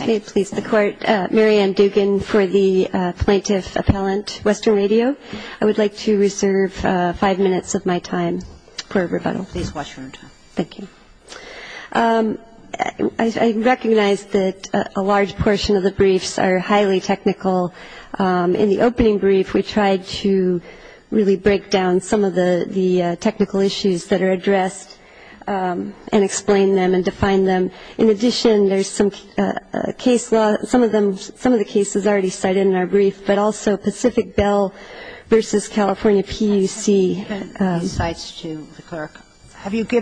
I recognize that a large portion of the briefs are highly technical. In the opening brief we tried to really break down some of the technical issues that are addressed and explain them and define them. In addition, there's some technical issues that are addressed in the opening brief. I'm going to give you a couple of examples. One is the Pacific Bell versus California PUC case law. Some of the cases are already cited in our brief, but also Pacific Bell versus California PUC. I have not read these cites to the clerk. Did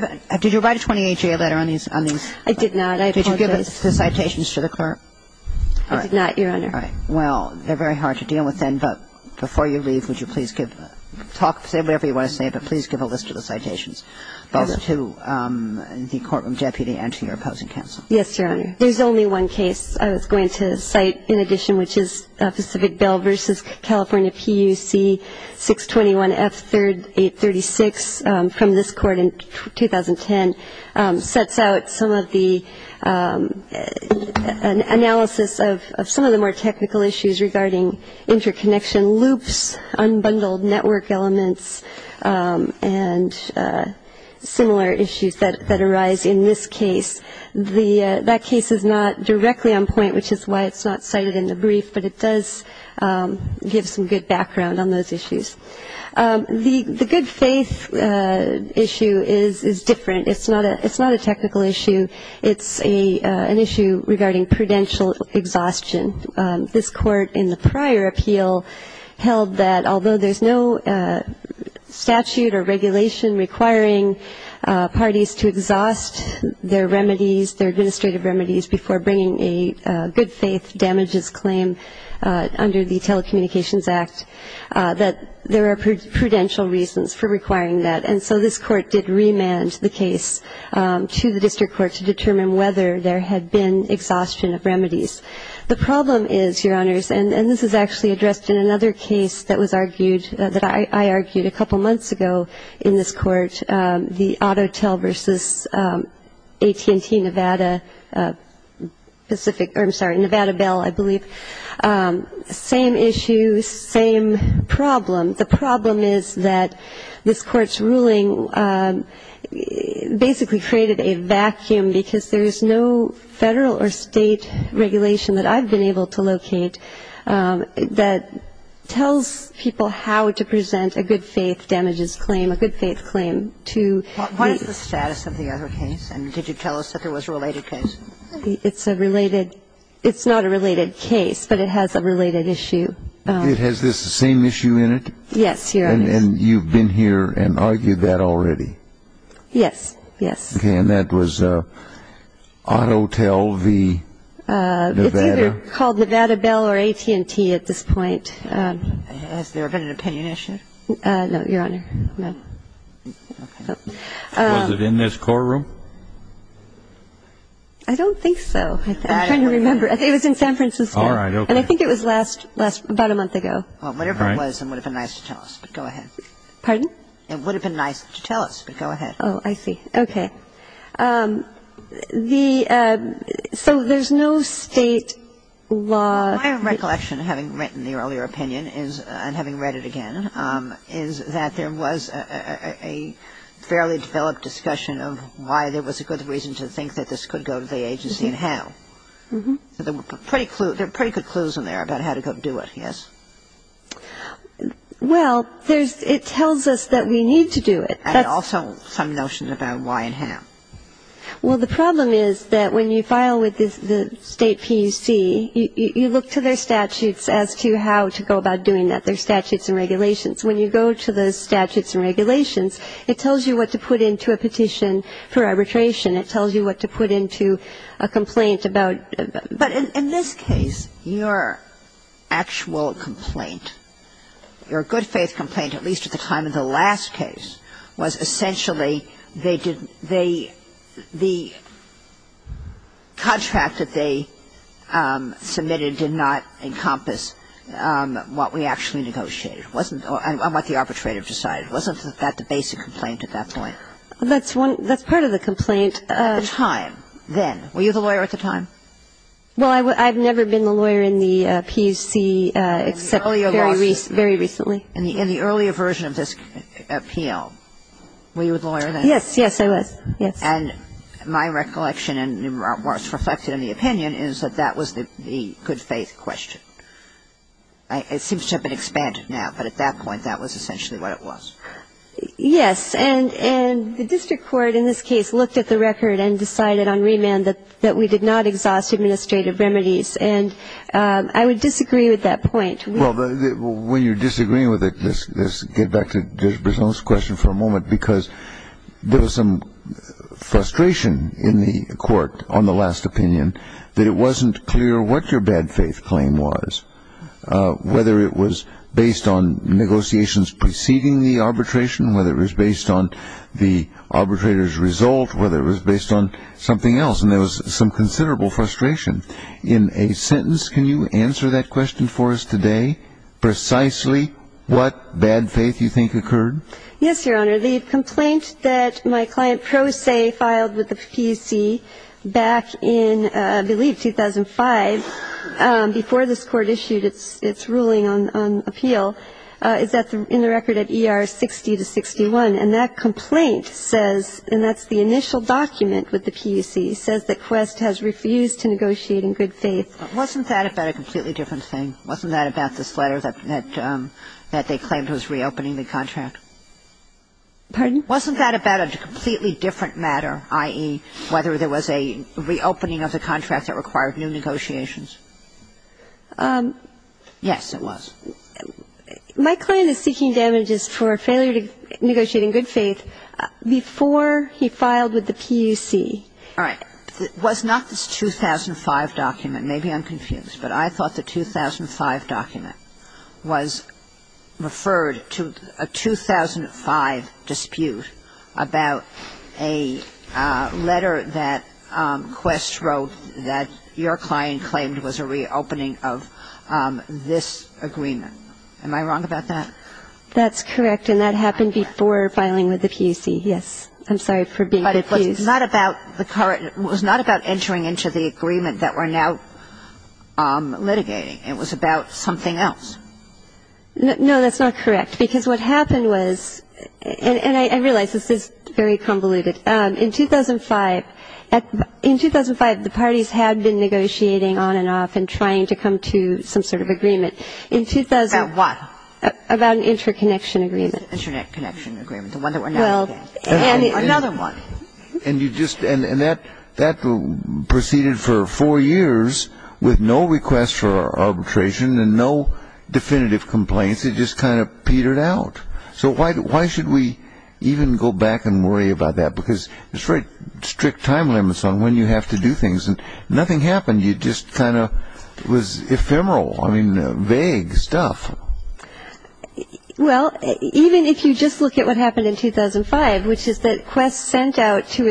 you write a 28-year letter on these? I did not. I apologize. Did you give the citations to the clerk? I did not, Your Honor. All right. Well, they're very hard to deal with then, but before you leave, would you please give them a list of the citations, both to the courtroom deputy and to your opposing counsel? Yes, Your Honor. There's only one case I was going to cite in addition, which is Pacific Bell versus California PUC 621F3836 from this court in 2010. It sets out some of the analysis of some of the more technical issues regarding interconnection loops, unbundled network elements, and similar issues that arise in this case. That case is not directly on point, which is why it's not cited in the brief, but it does give some good background on those issues. The good faith issue is different. It's not a technical issue. It's an issue regarding prudential exhaustion. This court in the prior appeal held that although there's no statute or regulation requiring parties to exhaust their remedies, their administrative remedies, before bringing a good faith damages claim under the Telecommunications Act, that there are prudential reasons for requiring that. And so this court did remand the case to the district court to determine whether there had been exhaustion of remedies. The problem is, Your Honors, and this is actually addressed in another case that was argued, that I argued a couple months ago in this court, the AutoTel versus AT&T Nevada Pacific, or I'm sorry, Nevada Bell, I believe. Same issue, same problem. The problem is that this Court's ruling basically created a vacuum because there's no Federal or State regulation that I've been able to locate that tells people how to present a good faith damages claim, a good faith claim to the other case. And did you tell us that there was a related case? It's a related – it's not a related case, but it has a related issue. It has this same issue in it? Yes, Your Honors. And you've been here and argued that already? Yes, yes. Okay, and that was AutoTel v. Nevada? It's either called Nevada Bell or AT&T at this point. Has there been an opinion issue? No, Your Honor, no. Was it in this courtroom? I don't think so. I'm trying to remember. It was in San Francisco. All right, okay. And I think it was last – about a month ago. Well, whatever it was, it would have been nice to tell us, but go ahead. Pardon? It would have been nice to tell us, but go ahead. Oh, I see. Okay. The – so there's no State law? My recollection, having written the earlier opinion and having read it again, is that there was a fairly developed discussion of why there was a good reason to think that this could go to the agency and how. There were pretty good clues in there about how to go do it, yes? Well, there's – it tells us that we need to do it. And also some notion about why and how. Well, the problem is that when you file with the State PUC, you look to their statutes as to how to go about doing that. You look to their statutes and regulations. When you go to the statutes and regulations, it tells you what to put into a petition for arbitration. It tells you what to put into a complaint about – But in this case, your actual complaint, your good faith complaint, at least at the time of the last case, was essentially they did – they – I'm sorry. It was essentially they did not negotiate. It wasn't – on what the arbitrator decided. It wasn't that the basic complaint at that point. That's one – that's part of the complaint. At the time, then. Were you the lawyer at the time? Well, I've never been the lawyer in the PUC except very recently. In the earlier lawsuit. In the earlier version of this appeal. Were you a lawyer then? Yes, yes, I was. Yes. And my recollection, and what's reflected in the opinion, is that that was the good faith question. It seems to have been expanded now, but at that point, that was essentially what it was. Yes, and the district court in this case looked at the record and decided on remand that we did not exhaust administrative remedies. And I would disagree with that point. Well, when you're disagreeing with it, Let's get back to Judge Brisson's question for a moment, because there was some frustration in the court on the last opinion that it wasn't clear what your bad faith claim was, whether it was based on negotiations preceding the arbitration, whether it was based on the arbitrator's result, whether it was based on something else. And there was some considerable frustration. In a sentence, can you answer that question for us today? Can you say precisely what bad faith you think occurred? Yes, Your Honor. The complaint that my client Pro Se filed with the PUC back in, I believe, 2005, before this Court issued its ruling on appeal, is in the record at ER 60 to 61. And that complaint says, and that's the initial document with the PUC, says that Quest has refused to negotiate in good faith. Wasn't that about a completely different thing? Wasn't that about this letter that they claimed was reopening the contract? Pardon? Wasn't that about a completely different matter, i.e., whether there was a reopening of the contract that required new negotiations? Yes, it was. My client is seeking damages for failure to negotiate in good faith before he filed with the PUC. All right. It was not this 2005 document. Maybe I'm confused. But I thought the 2005 document was referred to a 2005 dispute about a letter that Quest wrote that your client claimed was a reopening of this agreement. Am I wrong about that? That's correct. And that happened before filing with the PUC, yes. I'm sorry for being confused. But it was not about entering into the agreement that we're now litigating. It was about something else. No, that's not correct. Because what happened was, and I realize this is very convoluted. In 2005, the parties had been negotiating on and off and trying to come to some sort of agreement. About what? About an interconnection agreement. An interconnection agreement, the one that we're now looking at. Another one. And that proceeded for four years with no requests for arbitration and no definitive complaints. It just kind of petered out. So why should we even go back and worry about that? Because there's very strict time limits on when you have to do things. And nothing happened. It just kind of was ephemeral. I mean, vague stuff. Well, even if you just look at what happened in 2005, which is that Quest sent out to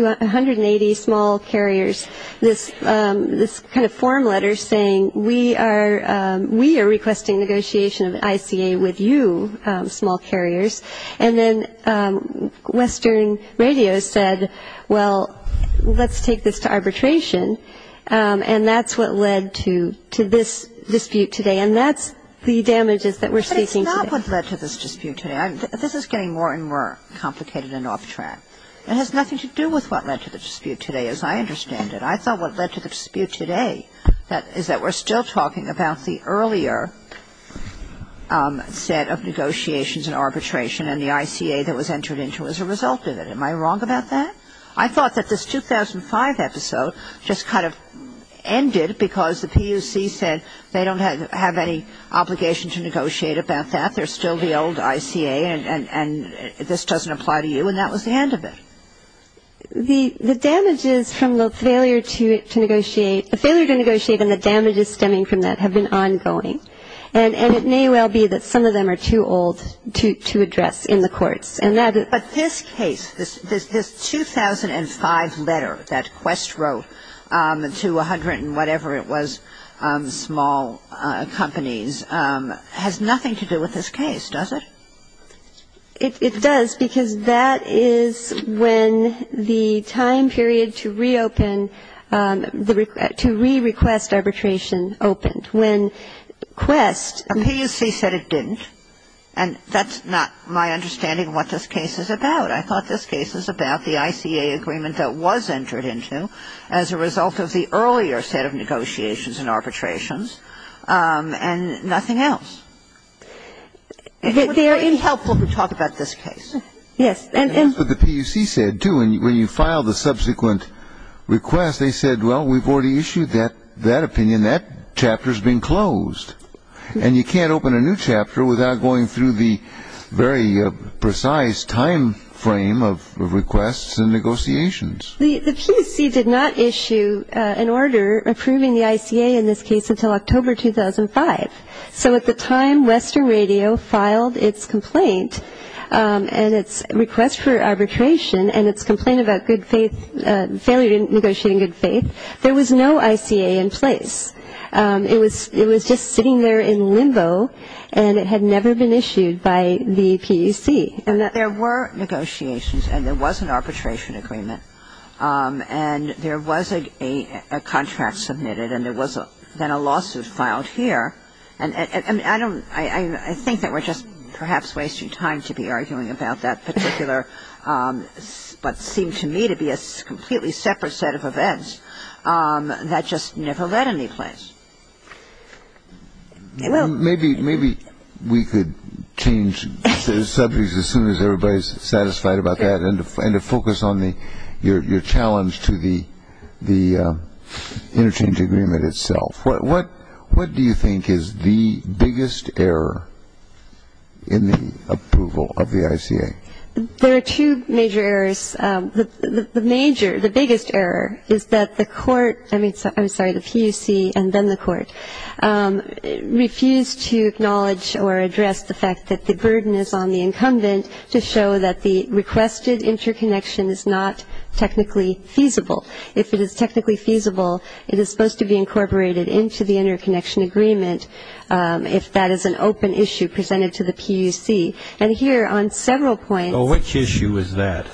180 small carriers this kind of form letter saying, we are requesting negotiation of an ICA with you, small carriers. And then Western Radio said, well, let's take this to arbitration. And that's what led to this dispute today. And that's the damages that we're seeking today. But it's not what led to this dispute today. This is getting more and more complicated and off track. It has nothing to do with what led to the dispute today, as I understand it. I thought what led to the dispute today is that we're still talking about the earlier set of negotiations and arbitration and the ICA that was entered into as a result of it. Am I wrong about that? I thought that this 2005 episode just kind of ended because the PUC said they don't have any obligation to negotiate about that. They're still the old ICA and this doesn't apply to you. And that was the end of it. The damages from the failure to negotiate and the damages stemming from that have been ongoing. And it may well be that some of them are too old to address in the courts. But this case, this 2005 letter that Quest wrote to 100 and whatever it was, small companies, has nothing to do with this case, does it? It does because that is when the time period to reopen, to re-request arbitration opened. When Quest ---- A PUC said it didn't. And that's not my understanding of what this case is about. I thought this case is about the ICA agreement that was entered into as a result of the earlier set of negotiations and arbitrations and nothing else. It would be very helpful to talk about this case. Yes. And that's what the PUC said, too. When you file the subsequent request, they said, well, we've already issued that opinion. That chapter has been closed. And you can't open a new chapter without going through the very precise time frame of requests and negotiations. The PUC did not issue an order approving the ICA in this case until October 2005. So at the time Western Radio filed its complaint and its request for arbitration and its complaint about good faith, failure to negotiate in good faith, there was no ICA in place. It was just sitting there in limbo, and it had never been issued by the PUC. There were negotiations, and there was an arbitration agreement, and there was a contract submitted, and there was then a lawsuit filed here. And I don't ‑‑ I think that we're just perhaps wasting time to be arguing about that particular what seemed to me to be a completely separate set of events that just never led anyplace. Maybe we could change subjects as soon as everybody is satisfied about that and to focus on your challenge to the interchange agreement itself. What do you think is the biggest error in the approval of the ICA? There are two major errors. The major ‑‑ the biggest error is that the court ‑‑ I'm sorry, the PUC and then the court refused to acknowledge or address the fact that the burden is on the incumbent to show that the requested interconnection is not technically feasible. If it is technically feasible, it is supposed to be incorporated into the interconnection agreement if that is an open issue presented to the PUC. And here on several points ‑‑ Which issue is that?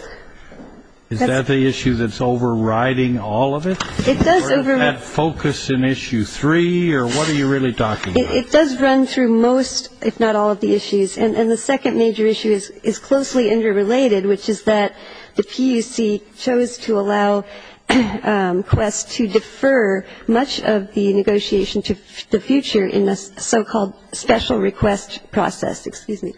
Is that the issue that's overriding all of it? It does ‑‑ Or is that focused in issue three, or what are you really talking about? It does run through most, if not all, of the issues. And the second major issue is closely interrelated, which is that the PUC chose to allow Quest to defer much of the negotiation to the future in the so‑called special request process, excuse me,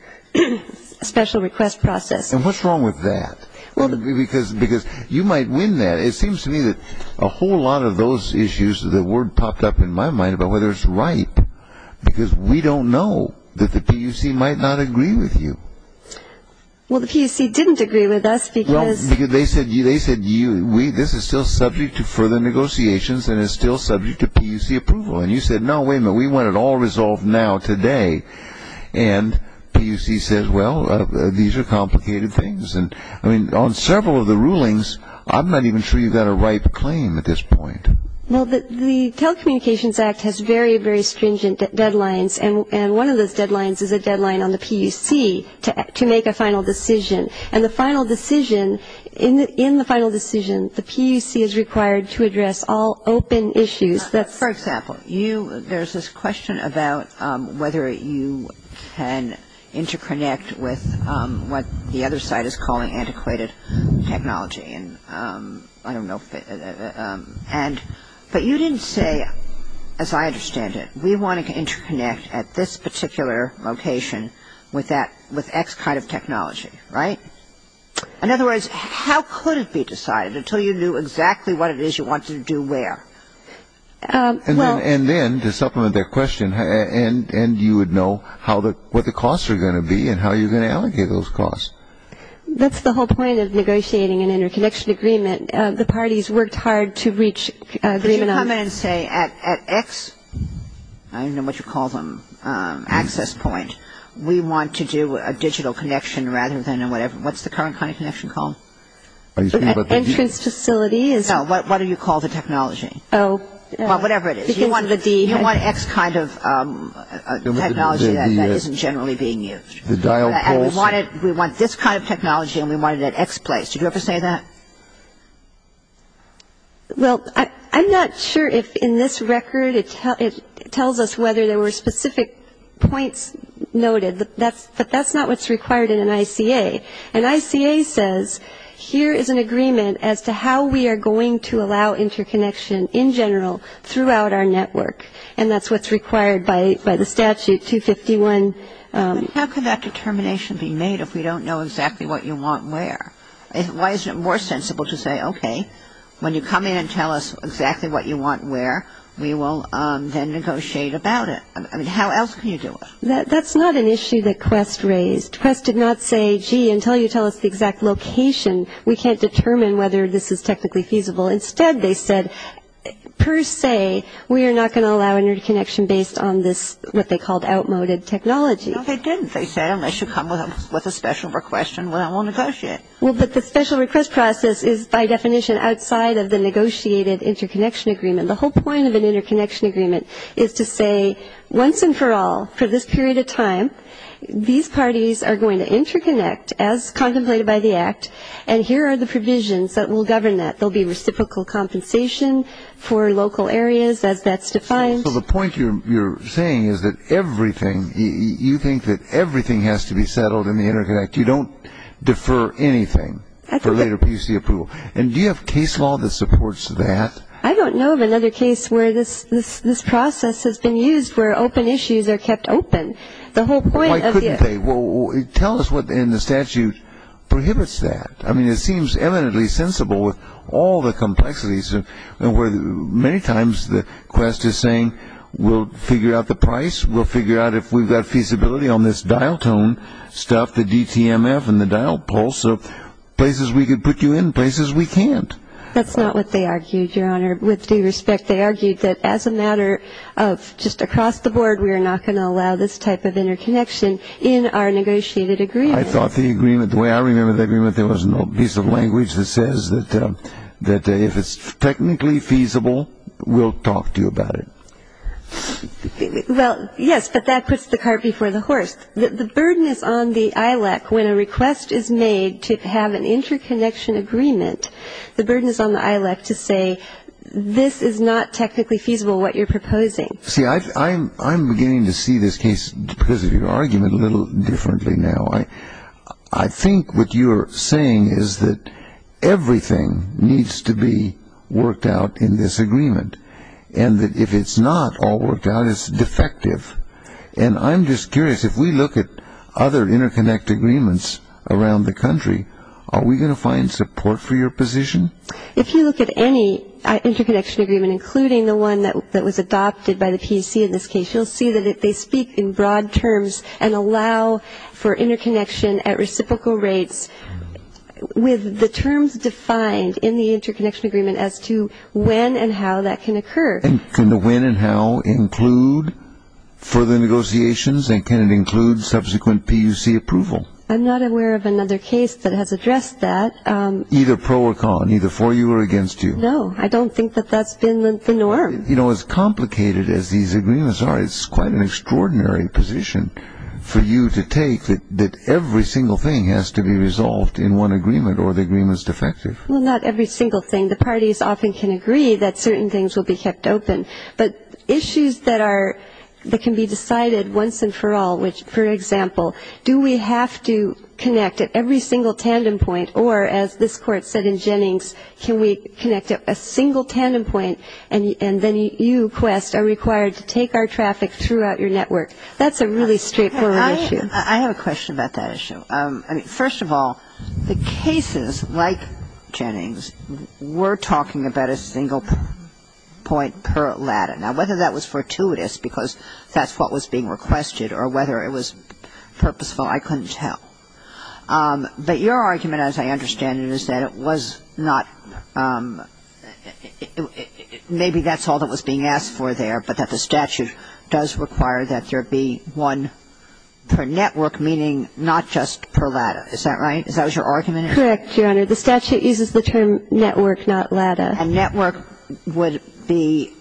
special request process. And what's wrong with that? Because you might win that. It seems to me that a whole lot of those issues, the word popped up in my mind about whether it's right, because we don't know that the PUC might not agree with you. Well, the PUC didn't agree with us because ‑‑ Well, because they said you ‑‑ this is still subject to further negotiations and is still subject to PUC approval. And you said, no, wait a minute, we want it all resolved now today. And PUC says, well, these are complicated things. And, I mean, on several of the rulings, I'm not even sure you've got a ripe claim at this point. Well, the Telecommunications Act has very, very stringent deadlines. And one of those deadlines is a deadline on the PUC to make a final decision. And the final decision, in the final decision, the PUC is required to address all open issues. For example, there's this question about whether you can interconnect with what the other side is calling antiquated technology. And I don't know if ‑‑ but you didn't say, as I understand it, we want to interconnect at this particular location with X kind of technology, right? In other words, how could it be decided until you knew exactly what it is you wanted to do where? And then, to supplement that question, and you would know what the costs are going to be and how you're going to allocate those costs. That's the whole point of negotiating an interconnection agreement. The parties worked hard to reach agreement on ‑‑ Could you come in and say at X, I don't know what you call them, access point, we want to do a digital connection rather than a whatever. What's the current kind of connection called? Entrance facility? No, what do you call the technology? Oh. Well, whatever it is. You want X kind of technology that isn't generally being used. We want this kind of technology and we want it at X place. Did you ever say that? Well, I'm not sure if in this record it tells us whether there were specific points noted, but that's not what's required in an ICA. An ICA says, here is an agreement as to how we are going to allow interconnection in general throughout our network, and that's what's required by the statute 251. How could that determination be made if we don't know exactly what you want where? Why isn't it more sensible to say, okay, when you come in and tell us exactly what you want where, we will then negotiate about it? I mean, how else can you do it? That's not an issue that Quest raised. Quest did not say, gee, until you tell us the exact location, we can't determine whether this is technically feasible. Instead, they said, per se, we are not going to allow interconnection based on this what they called outmoded technology. No, they didn't. They said, unless you come with a special requestion, we won't negotiate. Well, but the special request process is, by definition, outside of the negotiated interconnection agreement. The whole point of an interconnection agreement is to say, once and for all, for this period of time, these parties are going to interconnect as contemplated by the Act, and here are the provisions that will govern that. There will be reciprocal compensation for local areas, as that's defined. So the point you're saying is that everything, you think that everything has to be settled in the Interconnect. You don't defer anything for later PC approval. And do you have case law that supports that? I don't know of another case where this process has been used where open issues are kept open. Why couldn't they? Tell us what in the statute prohibits that. I mean, it seems eminently sensible with all the complexities where many times the quest is saying we'll figure out the price, we'll figure out if we've got feasibility on this dial tone stuff, the DTMF and the dial pulse, so places we could put you in, places we can't. That's not what they argued, Your Honor. With due respect, they argued that as a matter of just across the board, we are not going to allow this type of interconnection in our negotiated agreement. I thought the agreement, the way I remember the agreement, there was no piece of language that says that if it's technically feasible, we'll talk to you about it. Well, yes, but that puts the cart before the horse. The burden is on the ILEC when a request is made to have an interconnection agreement. The burden is on the ILEC to say this is not technically feasible, what you're proposing. See, I'm beginning to see this case because of your argument a little differently now. I think what you're saying is that everything needs to be worked out in this agreement and that if it's not all worked out, it's defective. And I'm just curious, if we look at other interconnect agreements around the country, are we going to find support for your position? If you look at any interconnection agreement, including the one that was adopted by the PUC in this case, you'll see that they speak in broad terms and allow for interconnection at reciprocal rates with the terms defined in the interconnection agreement as to when and how that can occur. And can the when and how include further negotiations, and can it include subsequent PUC approval? I'm not aware of another case that has addressed that. Either pro or con, either for you or against you? No, I don't think that that's been the norm. You know, as complicated as these agreements are, it's quite an extraordinary position for you to take that every single thing has to be resolved in one agreement or the agreement is defective. Well, not every single thing. The parties often can agree that certain things will be kept open, but issues that can be decided once and for all, which, for example, do we have to connect at every single tandem point, or as this Court said in Jennings, can we connect at a single tandem point and then you, Quest, are required to take our traffic throughout your network. That's a really straightforward issue. I have a question about that issue. First of all, the cases like Jennings were talking about a single point per ladder. Now, whether that was fortuitous because that's what was being requested or whether it was purposeful, I couldn't tell. But your argument, as I understand it, is that it was not – maybe that's all that was being asked for there, but that the statute does require that there be one per network, meaning not just per ladder. Is that right? Is that what your argument is? Correct, Your Honor. The statute uses the term network, not ladder. A network would be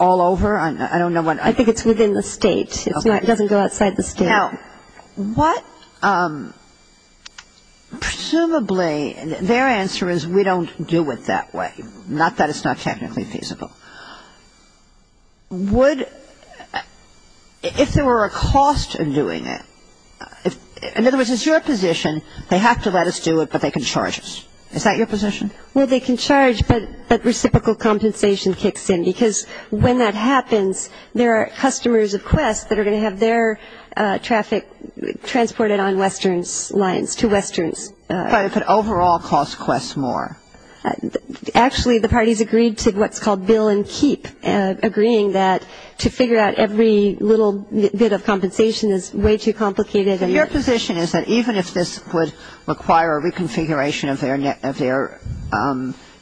all over? I don't know what – I think it's within the state. It doesn't go outside the state. Now, what – presumably their answer is we don't do it that way, not that it's not technically feasible. Would – if there were a cost in doing it – in other words, it's your position. They have to let us do it, but they can charge us. Is that your position? Well, they can charge, but reciprocal compensation kicks in because when that happens, there are customers of Quest that are going to have their traffic transported on Western's lines to Western's. But if it overall costs Quest more? Actually, the parties agreed to what's called bill and keep, agreeing that to figure out every little bit of compensation is way too complicated. Your position is that even if this would require a reconfiguration of their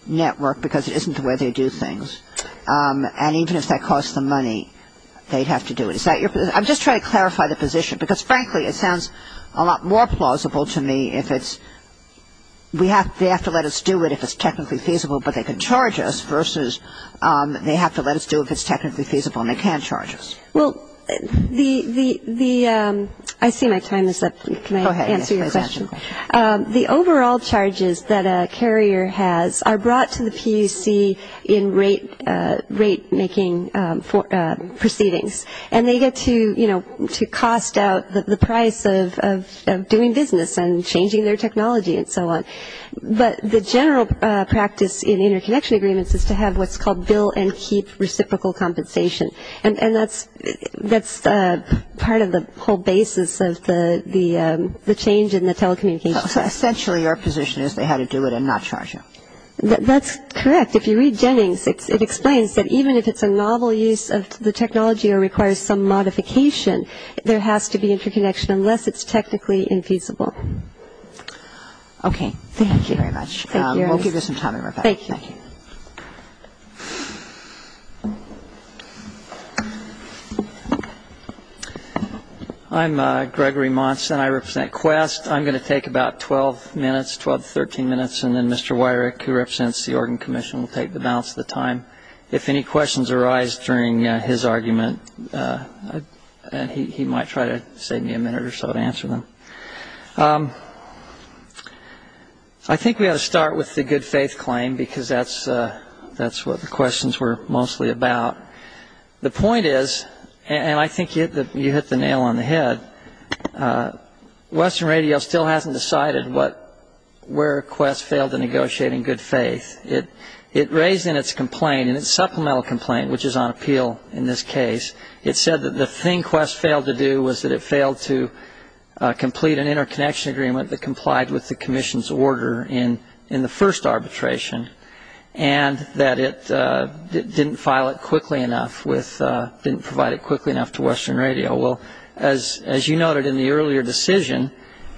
network because it isn't the way they do things, and even if that costs them money, they'd have to do it. Is that your – I'm just trying to clarify the position, because frankly it sounds a lot more plausible to me if it's – they have to let us do it if it's technically feasible but they can charge us versus they have to let us do it if it's technically feasible and they can't charge us. Well, the – I see my time is up. Can I answer your question? The overall charges that a carrier has are brought to the PUC in rate making proceedings, and they get to, you know, to cost out the price of doing business and changing their technology and so on. But the general practice in interconnection agreements is to have what's called bill and keep reciprocal compensation, and that's part of the whole basis of the change in the telecommunications. So essentially your position is they had to do it and not charge you. That's correct. If you read Jennings, it explains that even if it's a novel use of the technology or requires some modification, there has to be interconnection unless it's technically infeasible. Okay. Thank you very much. Thank you, Ernest. We'll give you some time in a moment. Thank you. Thank you. Thank you. I'm Gregory Monson. I represent Quest. I'm going to take about 12 minutes, 12 to 13 minutes, and then Mr. Wyrick, who represents the Oregon Commission, will take the balance of the time. If any questions arise during his argument, he might try to save me a minute or so to answer them. I think we ought to start with the good faith claim because that's what the questions were mostly about. The point is, and I think you hit the nail on the head, Western Radio still hasn't decided where Quest failed to negotiate in good faith. It raised in its complaint, in its supplemental complaint, which is on appeal in this case, it said that the thing Quest failed to do was that it failed to complete an interconnection agreement that complied with the commission's order in the first arbitration and that it didn't file it quickly enough with, didn't provide it quickly enough to Western Radio. Well, as you noted in the earlier decision,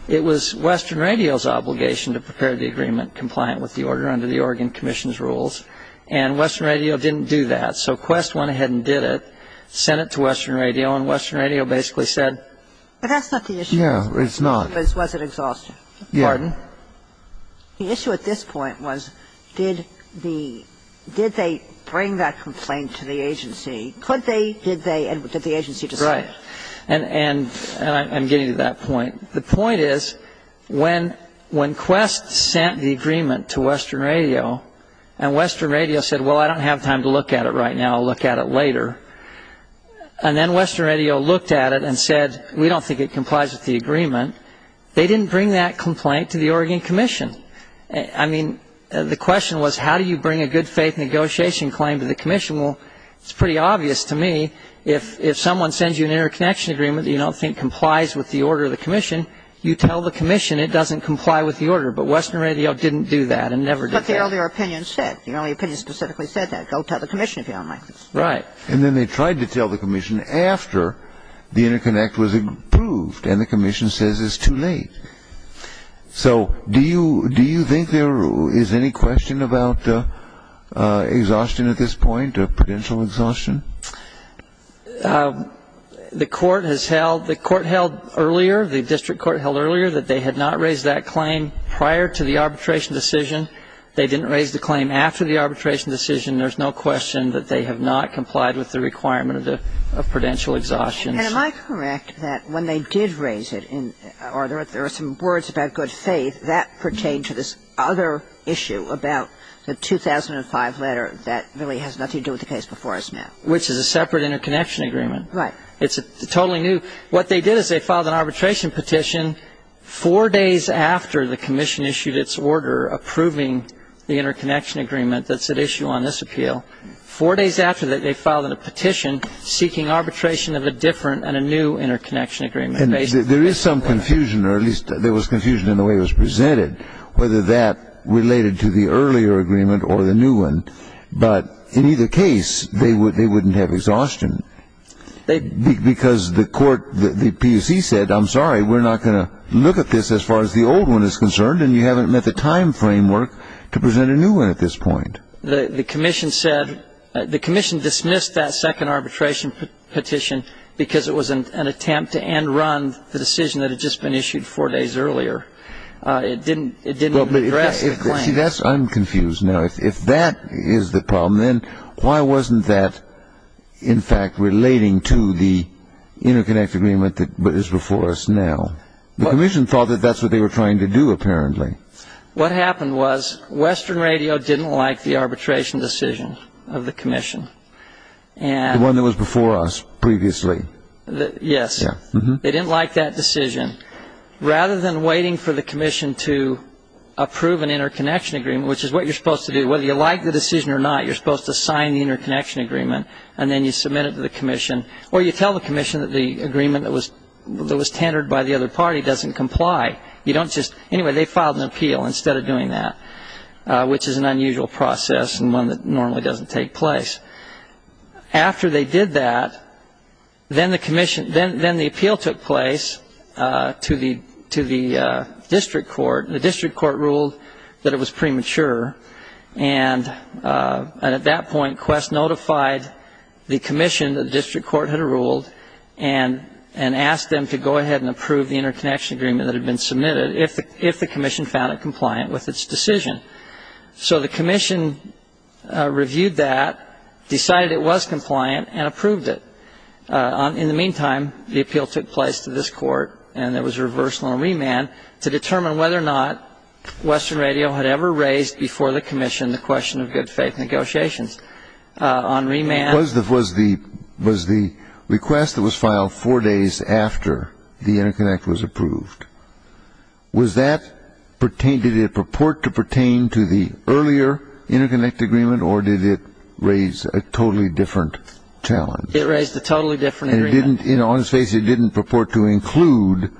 it was Western Radio's obligation to prepare the agreement compliant with the order under the Oregon Commission's rules, and Western Radio didn't do that. So Quest went ahead and did it, sent it to Western Radio, and Western Radio basically said... But that's not the issue. Yeah, it's not. Was it exhaustion? Yeah. Pardon? The issue at this point was did they bring that complaint to the agency? Could they, did they, and did the agency decide? Right. And I'm getting to that point. The point is when Quest sent the agreement to Western Radio, and Western Radio said, well, I don't have time to look at it right now, I'll look at it later, and then Western Radio looked at it and said, we don't think it complies with the agreement, they didn't bring that complaint to the Oregon Commission. I mean, the question was how do you bring a good faith negotiation claim to the commission? Well, it's pretty obvious to me if someone sends you an interconnection agreement that you don't think complies with the order of the commission, you tell the commission it doesn't comply with the order. But Western Radio didn't do that and never did that. That's what the earlier opinion said. The earlier opinion specifically said that. Go tell the commission if you don't like this. Right. And then they tried to tell the commission after the interconnect was approved, and the commission says it's too late. So do you think there is any question about exhaustion at this point or potential exhaustion? The court has held, the court held earlier, the district court held earlier, that they had not raised that claim prior to the arbitration decision. They didn't raise the claim after the arbitration decision. There's no question that they have not complied with the requirement of prudential exhaustion. And am I correct that when they did raise it, or there were some words about good faith, that pertained to this other issue about the 2005 letter that really has nothing to do with the case before us now? Which is a separate interconnection agreement. Right. It's totally new. What they did is they filed an arbitration petition four days after the commission issued its order approving the interconnection agreement that's at issue on this appeal. Four days after that, they filed a petition seeking arbitration of a different and a new interconnection agreement. There is some confusion, or at least there was confusion in the way it was presented, whether that related to the earlier agreement or the new one. But in either case, they wouldn't have exhaustion. Because the court, the PUC said, I'm sorry, we're not going to look at this as far as the old one is concerned, and you haven't met the time framework to present a new one at this point. The commission said, the commission dismissed that second arbitration petition because it was an attempt to end run the decision that had just been issued four days earlier. It didn't address the claim. See, I'm confused now. If that is the problem, then why wasn't that, in fact, relating to the interconnection agreement that is before us now? The commission thought that that's what they were trying to do, apparently. What happened was Western Radio didn't like the arbitration decision of the commission. The one that was before us previously. Yes. They didn't like that decision. Rather than waiting for the commission to approve an interconnection agreement, which is what you're supposed to do, whether you like the decision or not, you're supposed to sign the interconnection agreement, and then you submit it to the commission, or you tell the commission that the agreement that was tendered by the other party doesn't comply. Anyway, they filed an appeal instead of doing that, which is an unusual process and one that normally doesn't take place. After they did that, then the appeal took place to the district court. The district court ruled that it was premature, and at that point Quest notified the commission that the district court had ruled and asked them to go ahead and approve the interconnection agreement that had been submitted if the commission found it compliant with its decision. So the commission reviewed that, decided it was compliant, and approved it. In the meantime, the appeal took place to this court, and there was a reversal and remand to determine whether or not Western Radio had ever raised before the commission the question of good-faith negotiations. On remand. Was the request that was filed four days after the interconnect was approved, did it purport to pertain to the earlier interconnect agreement, or did it raise a totally different challenge? It raised a totally different agreement. And on its face, it didn't purport to include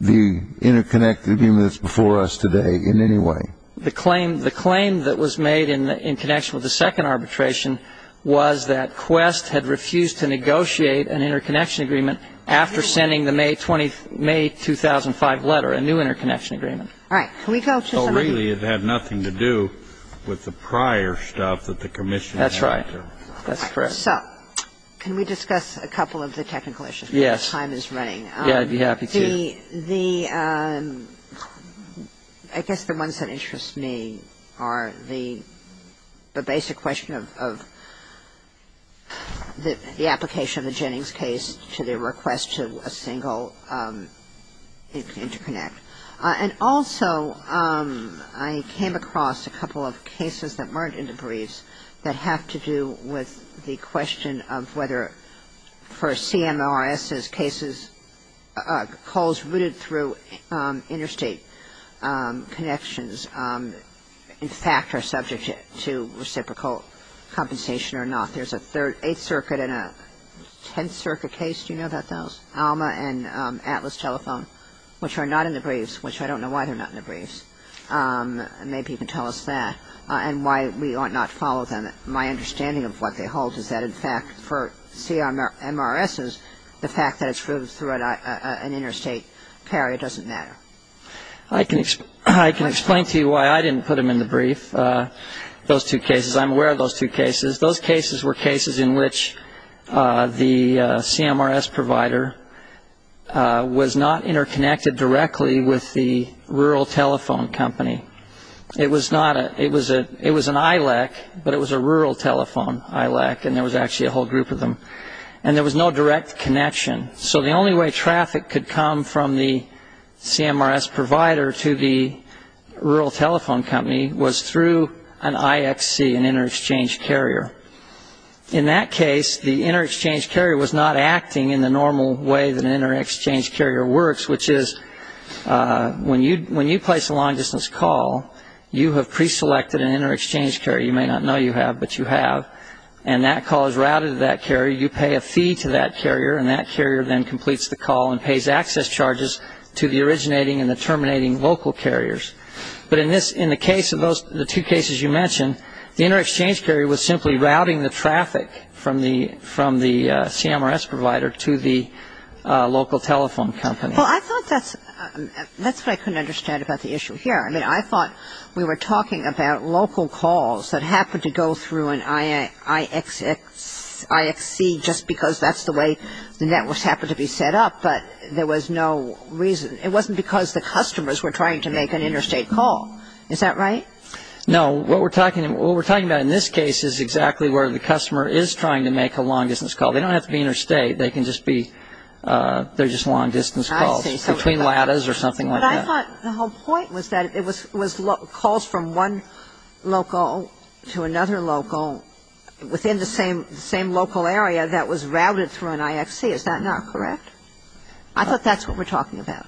the interconnect agreement that's before us today in any way? The claim that was made in connection with the second arbitration was that Quest had refused to negotiate an interconnection agreement after sending the May 2005 letter, a new interconnection agreement. All right. Can we go to some other? So really it had nothing to do with the prior stuff that the commission had to do? That's right. That's correct. So can we discuss a couple of the technical issues while the time is running? Yes. Yeah, I'd be happy to. I guess the ones that interest me are the basic question of the application of the Jennings case to the request to a single interconnect. And also I came across a couple of cases that weren't in the briefs that have to do with the question of whether, for CMRS's cases, calls routed through interstate connections, in fact, are subject to reciprocal compensation or not. There's an Eighth Circuit and a Tenth Circuit case. Do you know about those? Alma and Atlas Telephone, which are not in the briefs, which I don't know why they're not in the briefs. Maybe you can tell us that and why we ought not follow them. My understanding of what they hold is that, in fact, for CMRS's, the fact that it's routed through an interstate carrier doesn't matter. I can explain to you why I didn't put them in the brief, those two cases. I'm aware of those two cases. Those cases were cases in which the CMRS provider was not interconnected directly with the rural telephone company. It was an ILEC, but it was a rural telephone ILEC, and there was actually a whole group of them. And there was no direct connection. So the only way traffic could come from the CMRS provider to the rural telephone company was through an IXC, an inter-exchange carrier. In that case, the inter-exchange carrier was not acting in the normal way that an inter-exchange carrier works, which is when you place a long-distance call, you have pre-selected an inter-exchange carrier. You may not know you have, but you have. And that call is routed to that carrier. You pay a fee to that carrier, and that carrier then completes the call and pays access charges to the originating and the terminating local carriers. But in the two cases you mentioned, the inter-exchange carrier was simply routing the traffic from the CMRS provider to the local telephone company. Well, I thought that's what I couldn't understand about the issue here. I mean, I thought we were talking about local calls that happened to go through an IXC just because that's the way the networks happened to be set up, but there was no reason. It wasn't because the customers were trying to make an interstate call. Is that right? No. What we're talking about in this case is exactly where the customer is trying to make a long-distance call. They don't have to be interstate. They can just be they're just long-distance calls between ladders or something like that. But I thought the whole point was that it was calls from one local to another local within the same local area that was routed through an IXC. Is that not correct? I thought that's what we're talking about.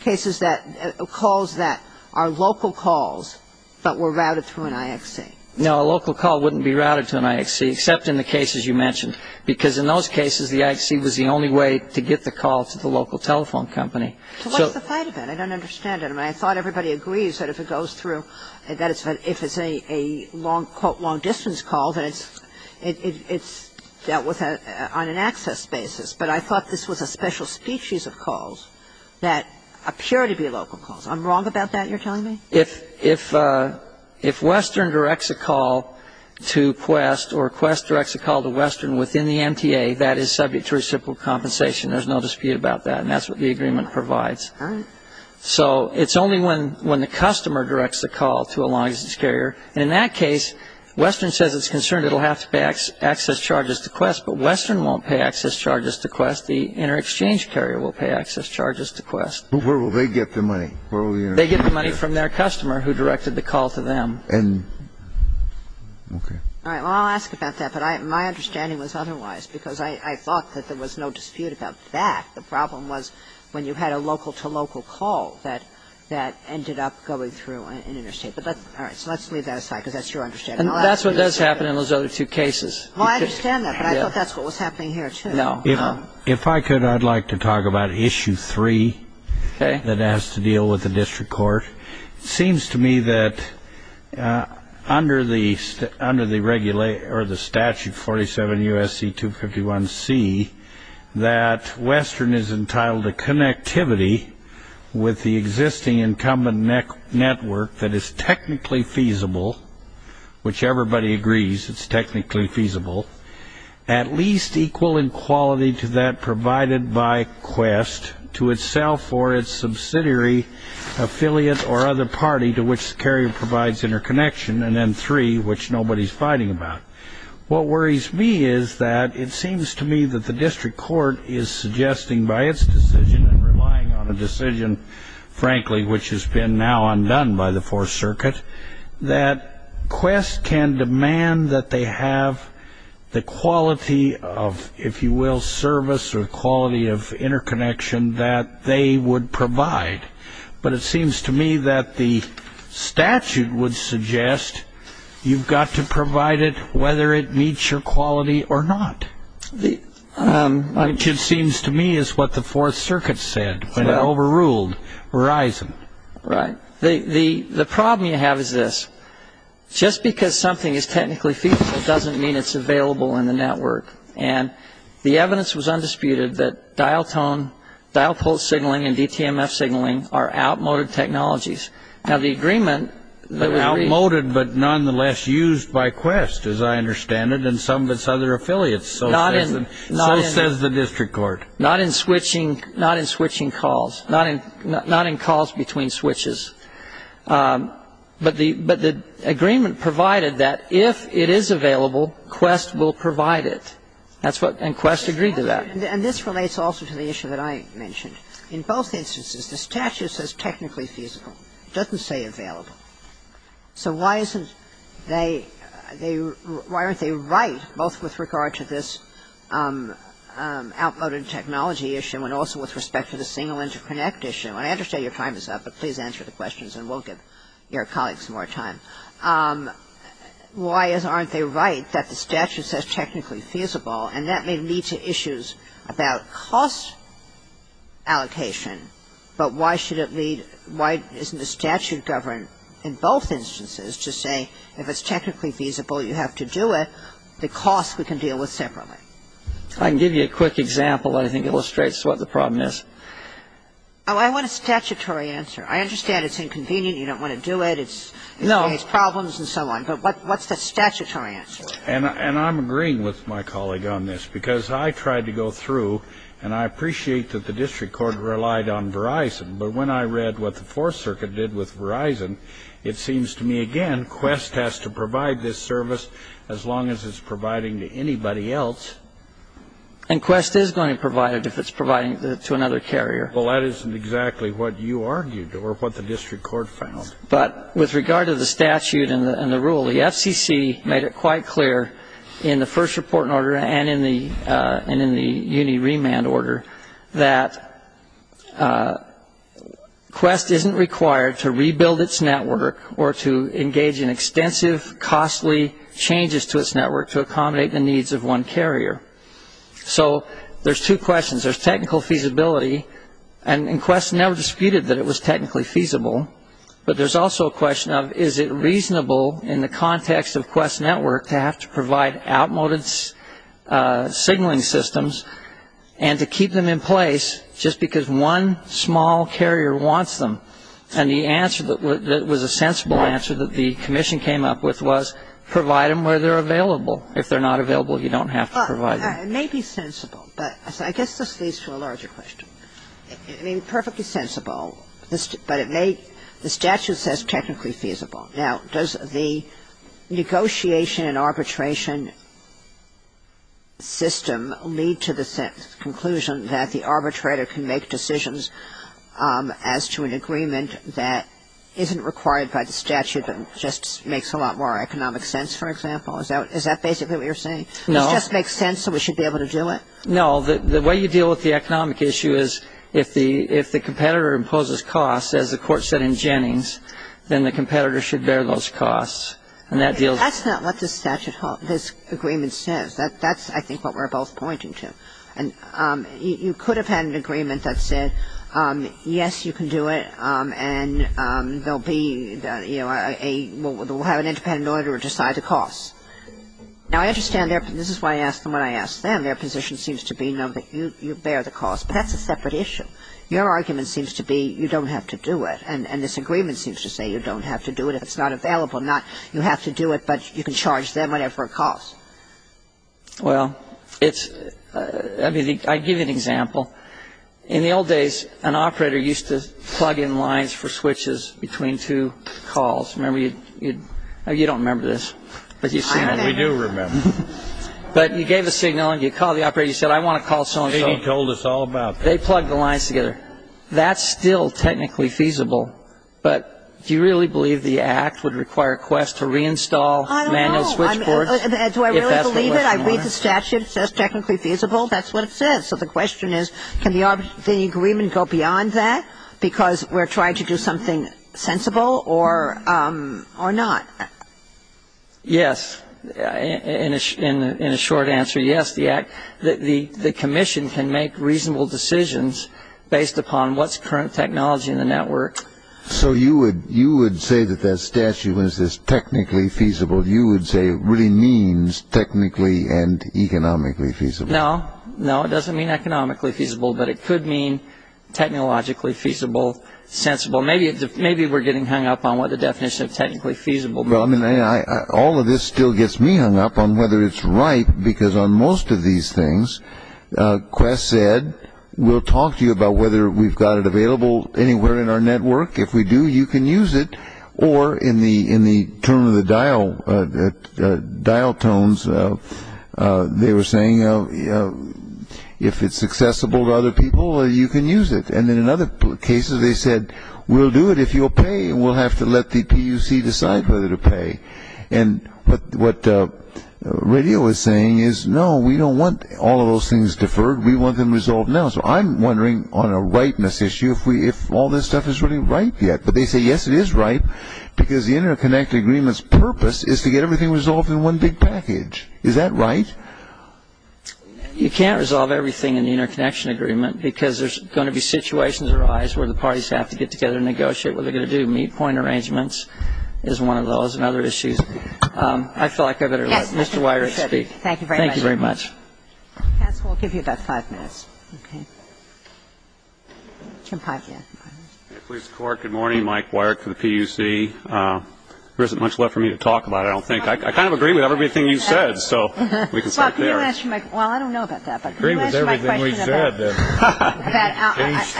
Cases that calls that are local calls but were routed through an IXC. No, a local call wouldn't be routed to an IXC except in the cases you mentioned because in those cases the IXC was the only way to get the call to the local telephone company. So what's the point of that? I don't understand it. I mean, I thought everybody agrees that if it goes through, that if it's a long, quote, long-distance call, then it's dealt with on an access basis. But I thought this was a special species of calls that appear to be local calls. I'm wrong about that, you're telling me? If Western directs a call to Quest or Quest directs a call to Western within the MTA, that is subject to reciprocal compensation. There's no dispute about that, and that's what the agreement provides. All right. So it's only when the customer directs a call to a long-distance carrier. And in that case, Western says it's concerned it will have to pay access charges to Quest, but Western won't pay access charges to Quest. The inter-exchange carrier will pay access charges to Quest. But where will they get the money? They get the money from their customer, who directed the call to them. Okay. All right. Well, I'll ask about that, but my understanding was otherwise, because I thought that there was no dispute about that. The problem was when you had a local-to-local call that ended up going through an interstate. All right. So let's leave that aside, because that's your understanding. That's what does happen in those other two cases. Well, I understand that, but I thought that's what was happening here, too. No. If I could, I'd like to talk about Issue 3 that has to deal with the district court. It seems to me that under the statute 47 U.S.C. 251C, that Western is entitled to connectivity with the existing incumbent network that is technically feasible, which everybody agrees it's technically feasible, at least equal in quality to that provided by Quest to itself or its subsidiary affiliate or other party to which the carrier provides interconnection, and then 3, which nobody's fighting about. What worries me is that it seems to me that the district court is suggesting by its decision and relying on a decision, frankly, which has been now undone by the Fourth Circuit, that Quest can demand that they have the quality of, if you will, service or quality of interconnection that they would provide. But it seems to me that the statute would suggest you've got to provide it whether it meets your quality or not, which it seems to me is what the Fourth Circuit said when it overruled Verizon. Right. The problem you have is this. Just because something is technically feasible doesn't mean it's available in the network. And the evidence was undisputed that dial-tone, dial-pulse signaling and DTMF signaling are outmoded technologies. Now, the agreement that was reached... Outmoded but nonetheless used by Quest, as I understand it, and some of its other affiliates. So says the district court. Not in switching calls. Not in calls between switches. But the agreement provided that if it is available, Quest will provide it. And Quest agreed to that. And this relates also to the issue that I mentioned. In both instances, the statute says technically feasible. It doesn't say available. So why isn't they — why aren't they right, both with regard to this outmoded technology issue and also with respect to the single interconnect issue? And I understand your time is up, but please answer the questions and we'll give your colleagues more time. Why aren't they right that the statute says technically feasible? And that may lead to issues about cost allocation. But why should it lead — why isn't the statute governed in both instances to say if it's technically feasible, you have to do it, the cost we can deal with separately? I can give you a quick example that I think illustrates what the problem is. Oh, I want a statutory answer. I understand it's inconvenient, you don't want to do it. No. It's problems and so on. But what's the statutory answer? And I'm agreeing with my colleague on this because I tried to go through and I appreciate that the district court relied on Verizon. But when I read what the Fourth Circuit did with Verizon, it seems to me, again, Quest has to provide this service as long as it's providing to anybody else. And Quest is going to provide it if it's providing it to another carrier. Well, that isn't exactly what you argued or what the district court found. But with regard to the statute and the rule, the FCC made it quite clear in the first reporting order and in the uni remand order that Quest isn't required to rebuild its network or to engage in extensive costly changes to its network to accommodate the needs of one carrier. So there's two questions. There's technical feasibility, and Quest never disputed that it was technically feasible. But there's also a question of is it reasonable in the context of Quest Network to have to provide outmoded signaling systems and to keep them in place just because one small carrier wants them. And the answer that was a sensible answer that the commission came up with was provide them where they're available. If they're not available, you don't have to provide them. It may be sensible, but I guess this leads to a larger question. I mean, perfectly sensible, but it may the statute says technically feasible. Now, does the negotiation and arbitration system lead to the conclusion that the arbitrator can make decisions as to an agreement that isn't required by the statute but just makes a lot more economic sense, for example? Is that basically what you're saying? No. It just makes sense and we should be able to do it? No. The way you deal with the economic issue is if the competitor imposes costs, as the court said in Jennings, then the competitor should bear those costs. That's not what this agreement says. That's, I think, what we're both pointing to. You could have had an agreement that said, yes, you can do it, and we'll have an independent auditor decide the costs. Now, I understand this is why I asked them what I asked them. Their position seems to be, no, you bear the costs, but that's a separate issue. Your argument seems to be you don't have to do it, and this agreement seems to say you don't have to do it if it's not available. Not you have to do it, but you can charge them whatever it costs. Well, it's – I mean, I'll give you an example. In the old days, an operator used to plug in lines for switches between two calls. Remember? You don't remember this, but you've seen it. We do remember. But you gave a signal, and you called the operator, and you said, I want to call so-and-so. He told us all about that. They plugged the lines together. That's still technically feasible, but do you really believe the Act would require a quest to reinstall manual switchboards if that's the way you want it? I don't know. Do I really believe it? I read the statute. It says technically feasible. That's what it says. So the question is, can the agreement go beyond that because we're trying to do something sensible or not? Yes. In a short answer, yes. The Commission can make reasonable decisions based upon what's current technology in the network. So you would say that that statute was technically feasible. You would say it really means technically and economically feasible. No. No, it doesn't mean economically feasible, but it could mean technologically feasible, sensible. Maybe we're getting hung up on what the definition of technically feasible means. All of this still gets me hung up on whether it's right because on most of these things, Quest said, we'll talk to you about whether we've got it available anywhere in our network. If we do, you can use it. Or in the term of the dial tones, they were saying if it's accessible to other people, you can use it. And then in other cases, they said, we'll do it if you'll pay. We'll have to let the PUC decide whether to pay. And what Radio is saying is, no, we don't want all of those things deferred. We want them resolved now. So I'm wondering on a rightness issue if all this stuff is really right yet. But they say, yes, it is right because the interconnect agreement's purpose is to get everything resolved in one big package. Is that right? You can't resolve everything in the interconnection agreement because there's going to be situations arise where the parties have to get together and negotiate what they're going to do. Meet point arrangements is one of those and other issues. I feel like I better let Mr. Weirich speak. Thank you very much. Thank you very much. We'll give you about five minutes. Good morning, Mike Weirich for the PUC. There isn't much left for me to talk about, I don't think. I kind of agree with everything you said, so we can stop there. Well, can you answer my question? Well, I don't know about that, but can you answer my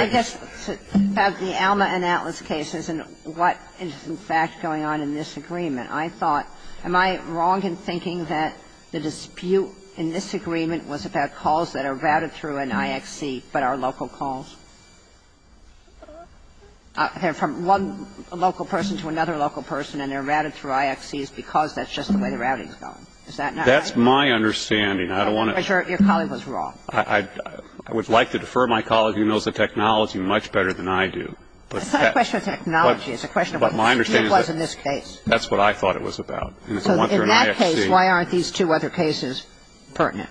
question about the Alma and Atlas cases and what is in fact going on in this agreement? I thought, am I wrong in thinking that the dispute in this agreement was about calls that are routed through an IXC but are local calls? From one local person to another local person and they're routed through IXCs because that's just the way the routing is going. Is that not right? That's my understanding. Your colleague was wrong. I would like to defer my colleague who knows the technology much better than I do. It's not a question of technology. It's a question of what the dispute was in this case. That's what I thought it was about. So in that case, why aren't these two other cases pertinent?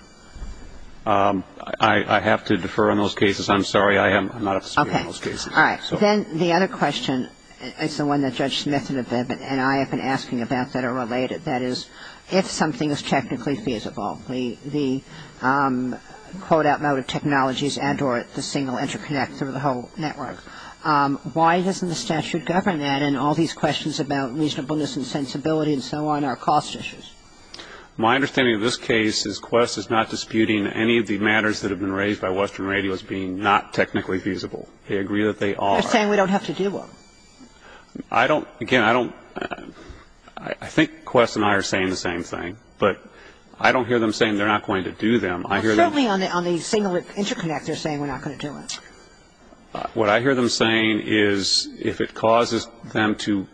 I have to defer on those cases. I'm sorry. I'm not up to speed on those cases. Okay. All right. Then the other question is the one that Judge Smith and Abed and I have been asking about that are related. That is, if something is technically feasible, the quote out loud of technologies and or the single interconnect through the whole network, why doesn't the statute govern that and all these questions about reasonableness and sensibility and so on are cost issues? My understanding of this case is Quest is not disputing any of the matters that have been raised by Western Radio as being not technically feasible. They agree that they are. They're saying we don't have to do them. I don't – again, I don't – I think Quest and I are saying the same thing, but I don't hear them saying they're not going to do them. Certainly on the single interconnect, they're saying we're not going to do it. What I hear them saying is if it causes them to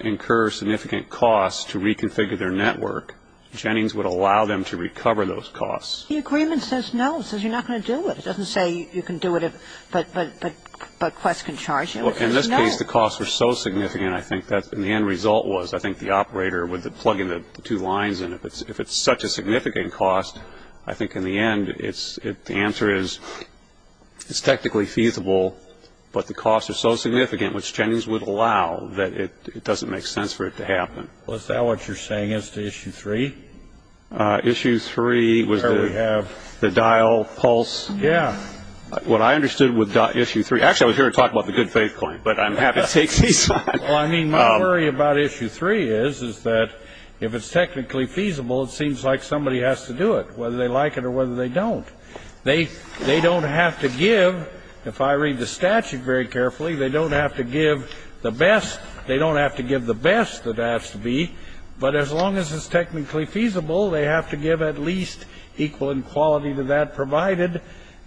incur significant costs to reconfigure their network, Jennings would allow them to recover those costs. The agreement says no. It says you're not going to do it. It doesn't say you can do it, but Quest can charge you. In this case, the costs were so significant, I think, that the end result was, I think, the operator would plug in the two lines and if it's such a significant cost, I think in the end the answer is it's technically feasible, but the costs are so significant, which Jennings would allow, that it doesn't make sense for it to happen. Is that what you're saying as to Issue 3? Issue 3 was the dial pulse. Yeah. What I understood with Issue 3, actually I was here to talk about the good faith claim, but I'm happy to take these on. Well, I mean, my worry about Issue 3 is that if it's technically feasible, it seems like somebody has to do it, whether they like it or whether they don't. They don't have to give, if I read the statute very carefully, they don't have to give the best. They don't have to give the best that has to be, but as long as it's technically feasible, they have to give at least equal in quality to that provided,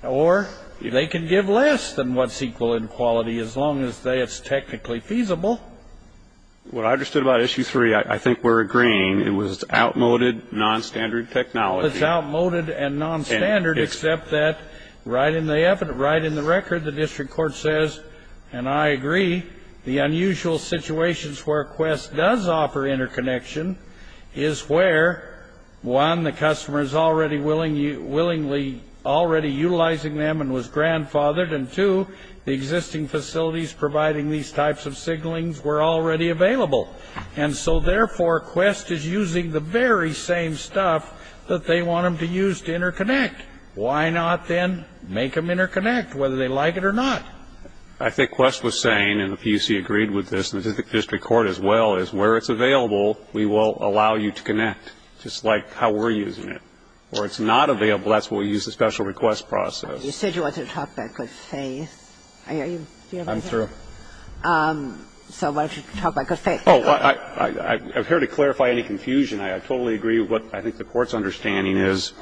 or they can give less than what's equal in quality as long as it's technically feasible. What I understood about Issue 3, I think we're agreeing, it was outmoded, nonstandard technology. It's outmoded and nonstandard, except that right in the record the district court says, and I agree, the unusual situations where Quest does offer interconnection is where, one, the customer is already willingly, already utilizing them and was grandfathered, and two, the existing facilities providing these types of signalings were already available, and so therefore Quest is using the very same stuff that they want them to use to interconnect. Why not then make them interconnect, whether they like it or not? I think Quest was saying, and the PUC agreed with this, and the district court as well, is where it's available, we will allow you to connect, just like how we're using it. Where it's not available, that's where we use the special request process. You said you wanted to talk about good faith. I'm through. So why don't you talk about good faith? Oh, I'm here to clarify any confusion. I totally agree with what I think the court's understanding is.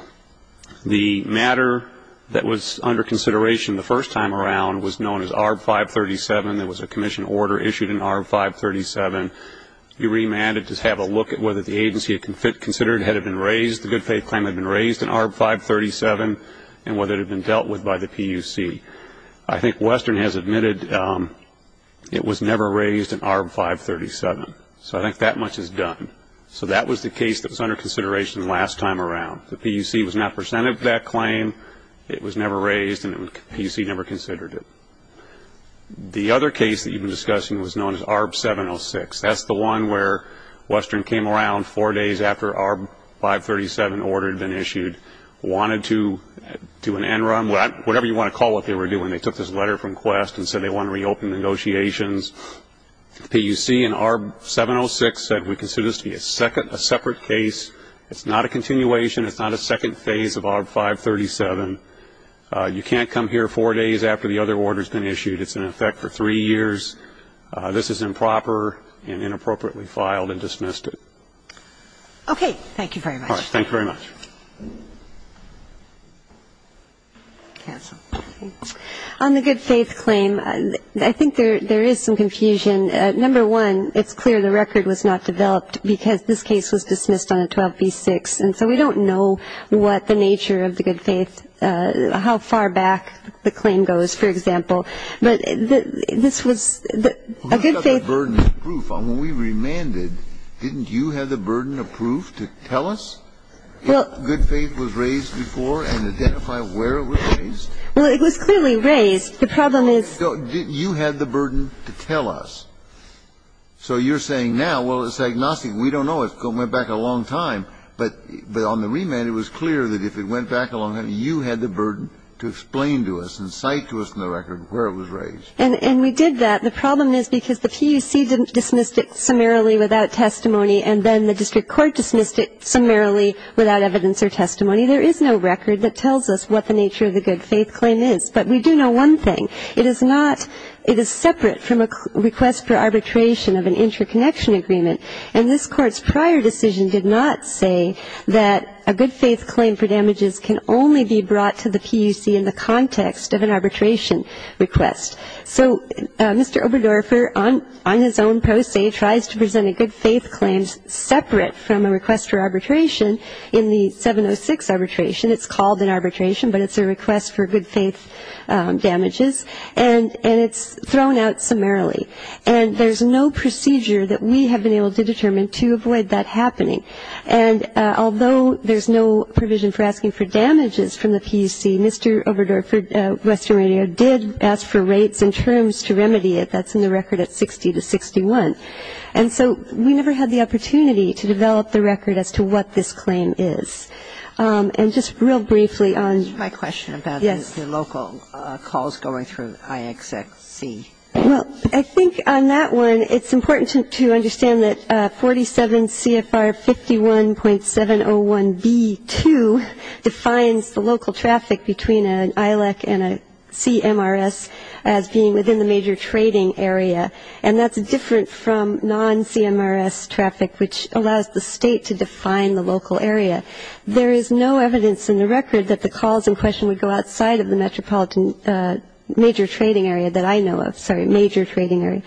The matter that was under consideration the first time around was known as ARB 537. There was a commission order issued in ARB 537. You remanded to have a look at whether the agency considered it had been raised, the good faith claim had been raised in ARB 537, and whether it had been dealt with by the PUC. I think Western has admitted it was never raised in ARB 537. So I think that much is done. So that was the case that was under consideration the last time around. The PUC was not presented with that claim. It was never raised, and the PUC never considered it. The other case that you've been discussing was known as ARB 706. That's the one where Western came around four days after ARB 537 order had been issued, wanted to do an end run, whatever you want to call what they were doing. They took this letter from Quest and said they wanted to reopen negotiations. The PUC in ARB 706 said we consider this to be a separate case. It's not a continuation. It's not a second phase of ARB 537. You can't come here four days after the other order has been issued. It's in effect for three years. This is improper and inappropriately filed and dismissed. Okay, thank you very much. All right, thank you very much. On the good faith claim, I think there is some confusion. Number one, it's clear the record was not developed because this case was dismissed on a 12b6, and so we don't know what the nature of the good faith, how far back the claim goes, for example. But this was a good faith. Who had the burden of proof? When we remanded, didn't you have the burden of proof to tell us? Good faith was raised before and identify where it was raised. Well, it was clearly raised. The problem is you had the burden to tell us. So you're saying now, well, it's agnostic. We don't know. It went back a long time. But on the remand, it was clear that if it went back a long time, you had the burden to explain to us and cite to us in the record where it was raised. And we did that. The problem is because the PUC dismissed it summarily without testimony and then the testimony, there is no record that tells us what the nature of the good faith claim is. But we do know one thing. It is not ‑‑ it is separate from a request for arbitration of an interconnection agreement, and this Court's prior decision did not say that a good faith claim for damages can only be brought to the PUC in the context of an arbitration request. So Mr. Oberdorfer, on his own pro se, tries to present a good faith claim separate from a request for arbitration in the 706 arbitration. It's called an arbitration, but it's a request for good faith damages. And it's thrown out summarily. And there's no procedure that we have been able to determine to avoid that happening. And although there's no provision for asking for damages from the PUC, Mr. Oberdorfer of Western Radio did ask for rates and terms to remedy it. That's in the record at 60 to 61. And so we never had the opportunity to develop the record as to what this claim is. And just real briefly on ‑‑ My question about the local calls going through IXC. Well, I think on that one, it's important to understand that 47 CFR 51.701B2 defines the local traffic between an ILEC and a CMRS as being within the major trading area, and that's different from non-CMRS traffic, which allows the state to define the local area. There is no evidence in the record that the calls in question would go outside of the metropolitan major trading area that I know of. Sorry, major trading area.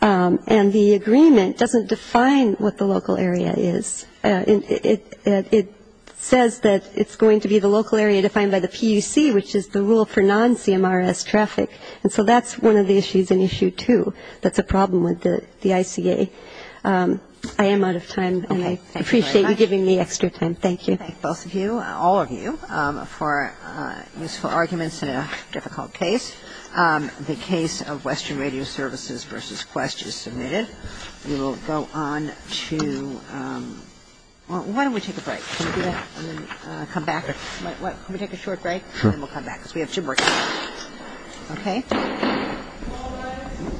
And the agreement doesn't define what the local area is. It says that it's going to be the local area defined by the PUC, which is the rule for non-CMRS traffic. And so that's one of the issues, and issue two, that's a problem with the ICA. I am out of time, and I appreciate you giving me extra time. Thank you. Thank both of you, all of you, for useful arguments in a difficult case. The case of Western Radio Services v. Quest is submitted. We will go on to ‑‑ why don't we take a break? Can we do that? And then come back. Can we take a short break? And then we'll come back, because we have gym breaks. Okay. Thank you. Thank you. Thank you. Thank you.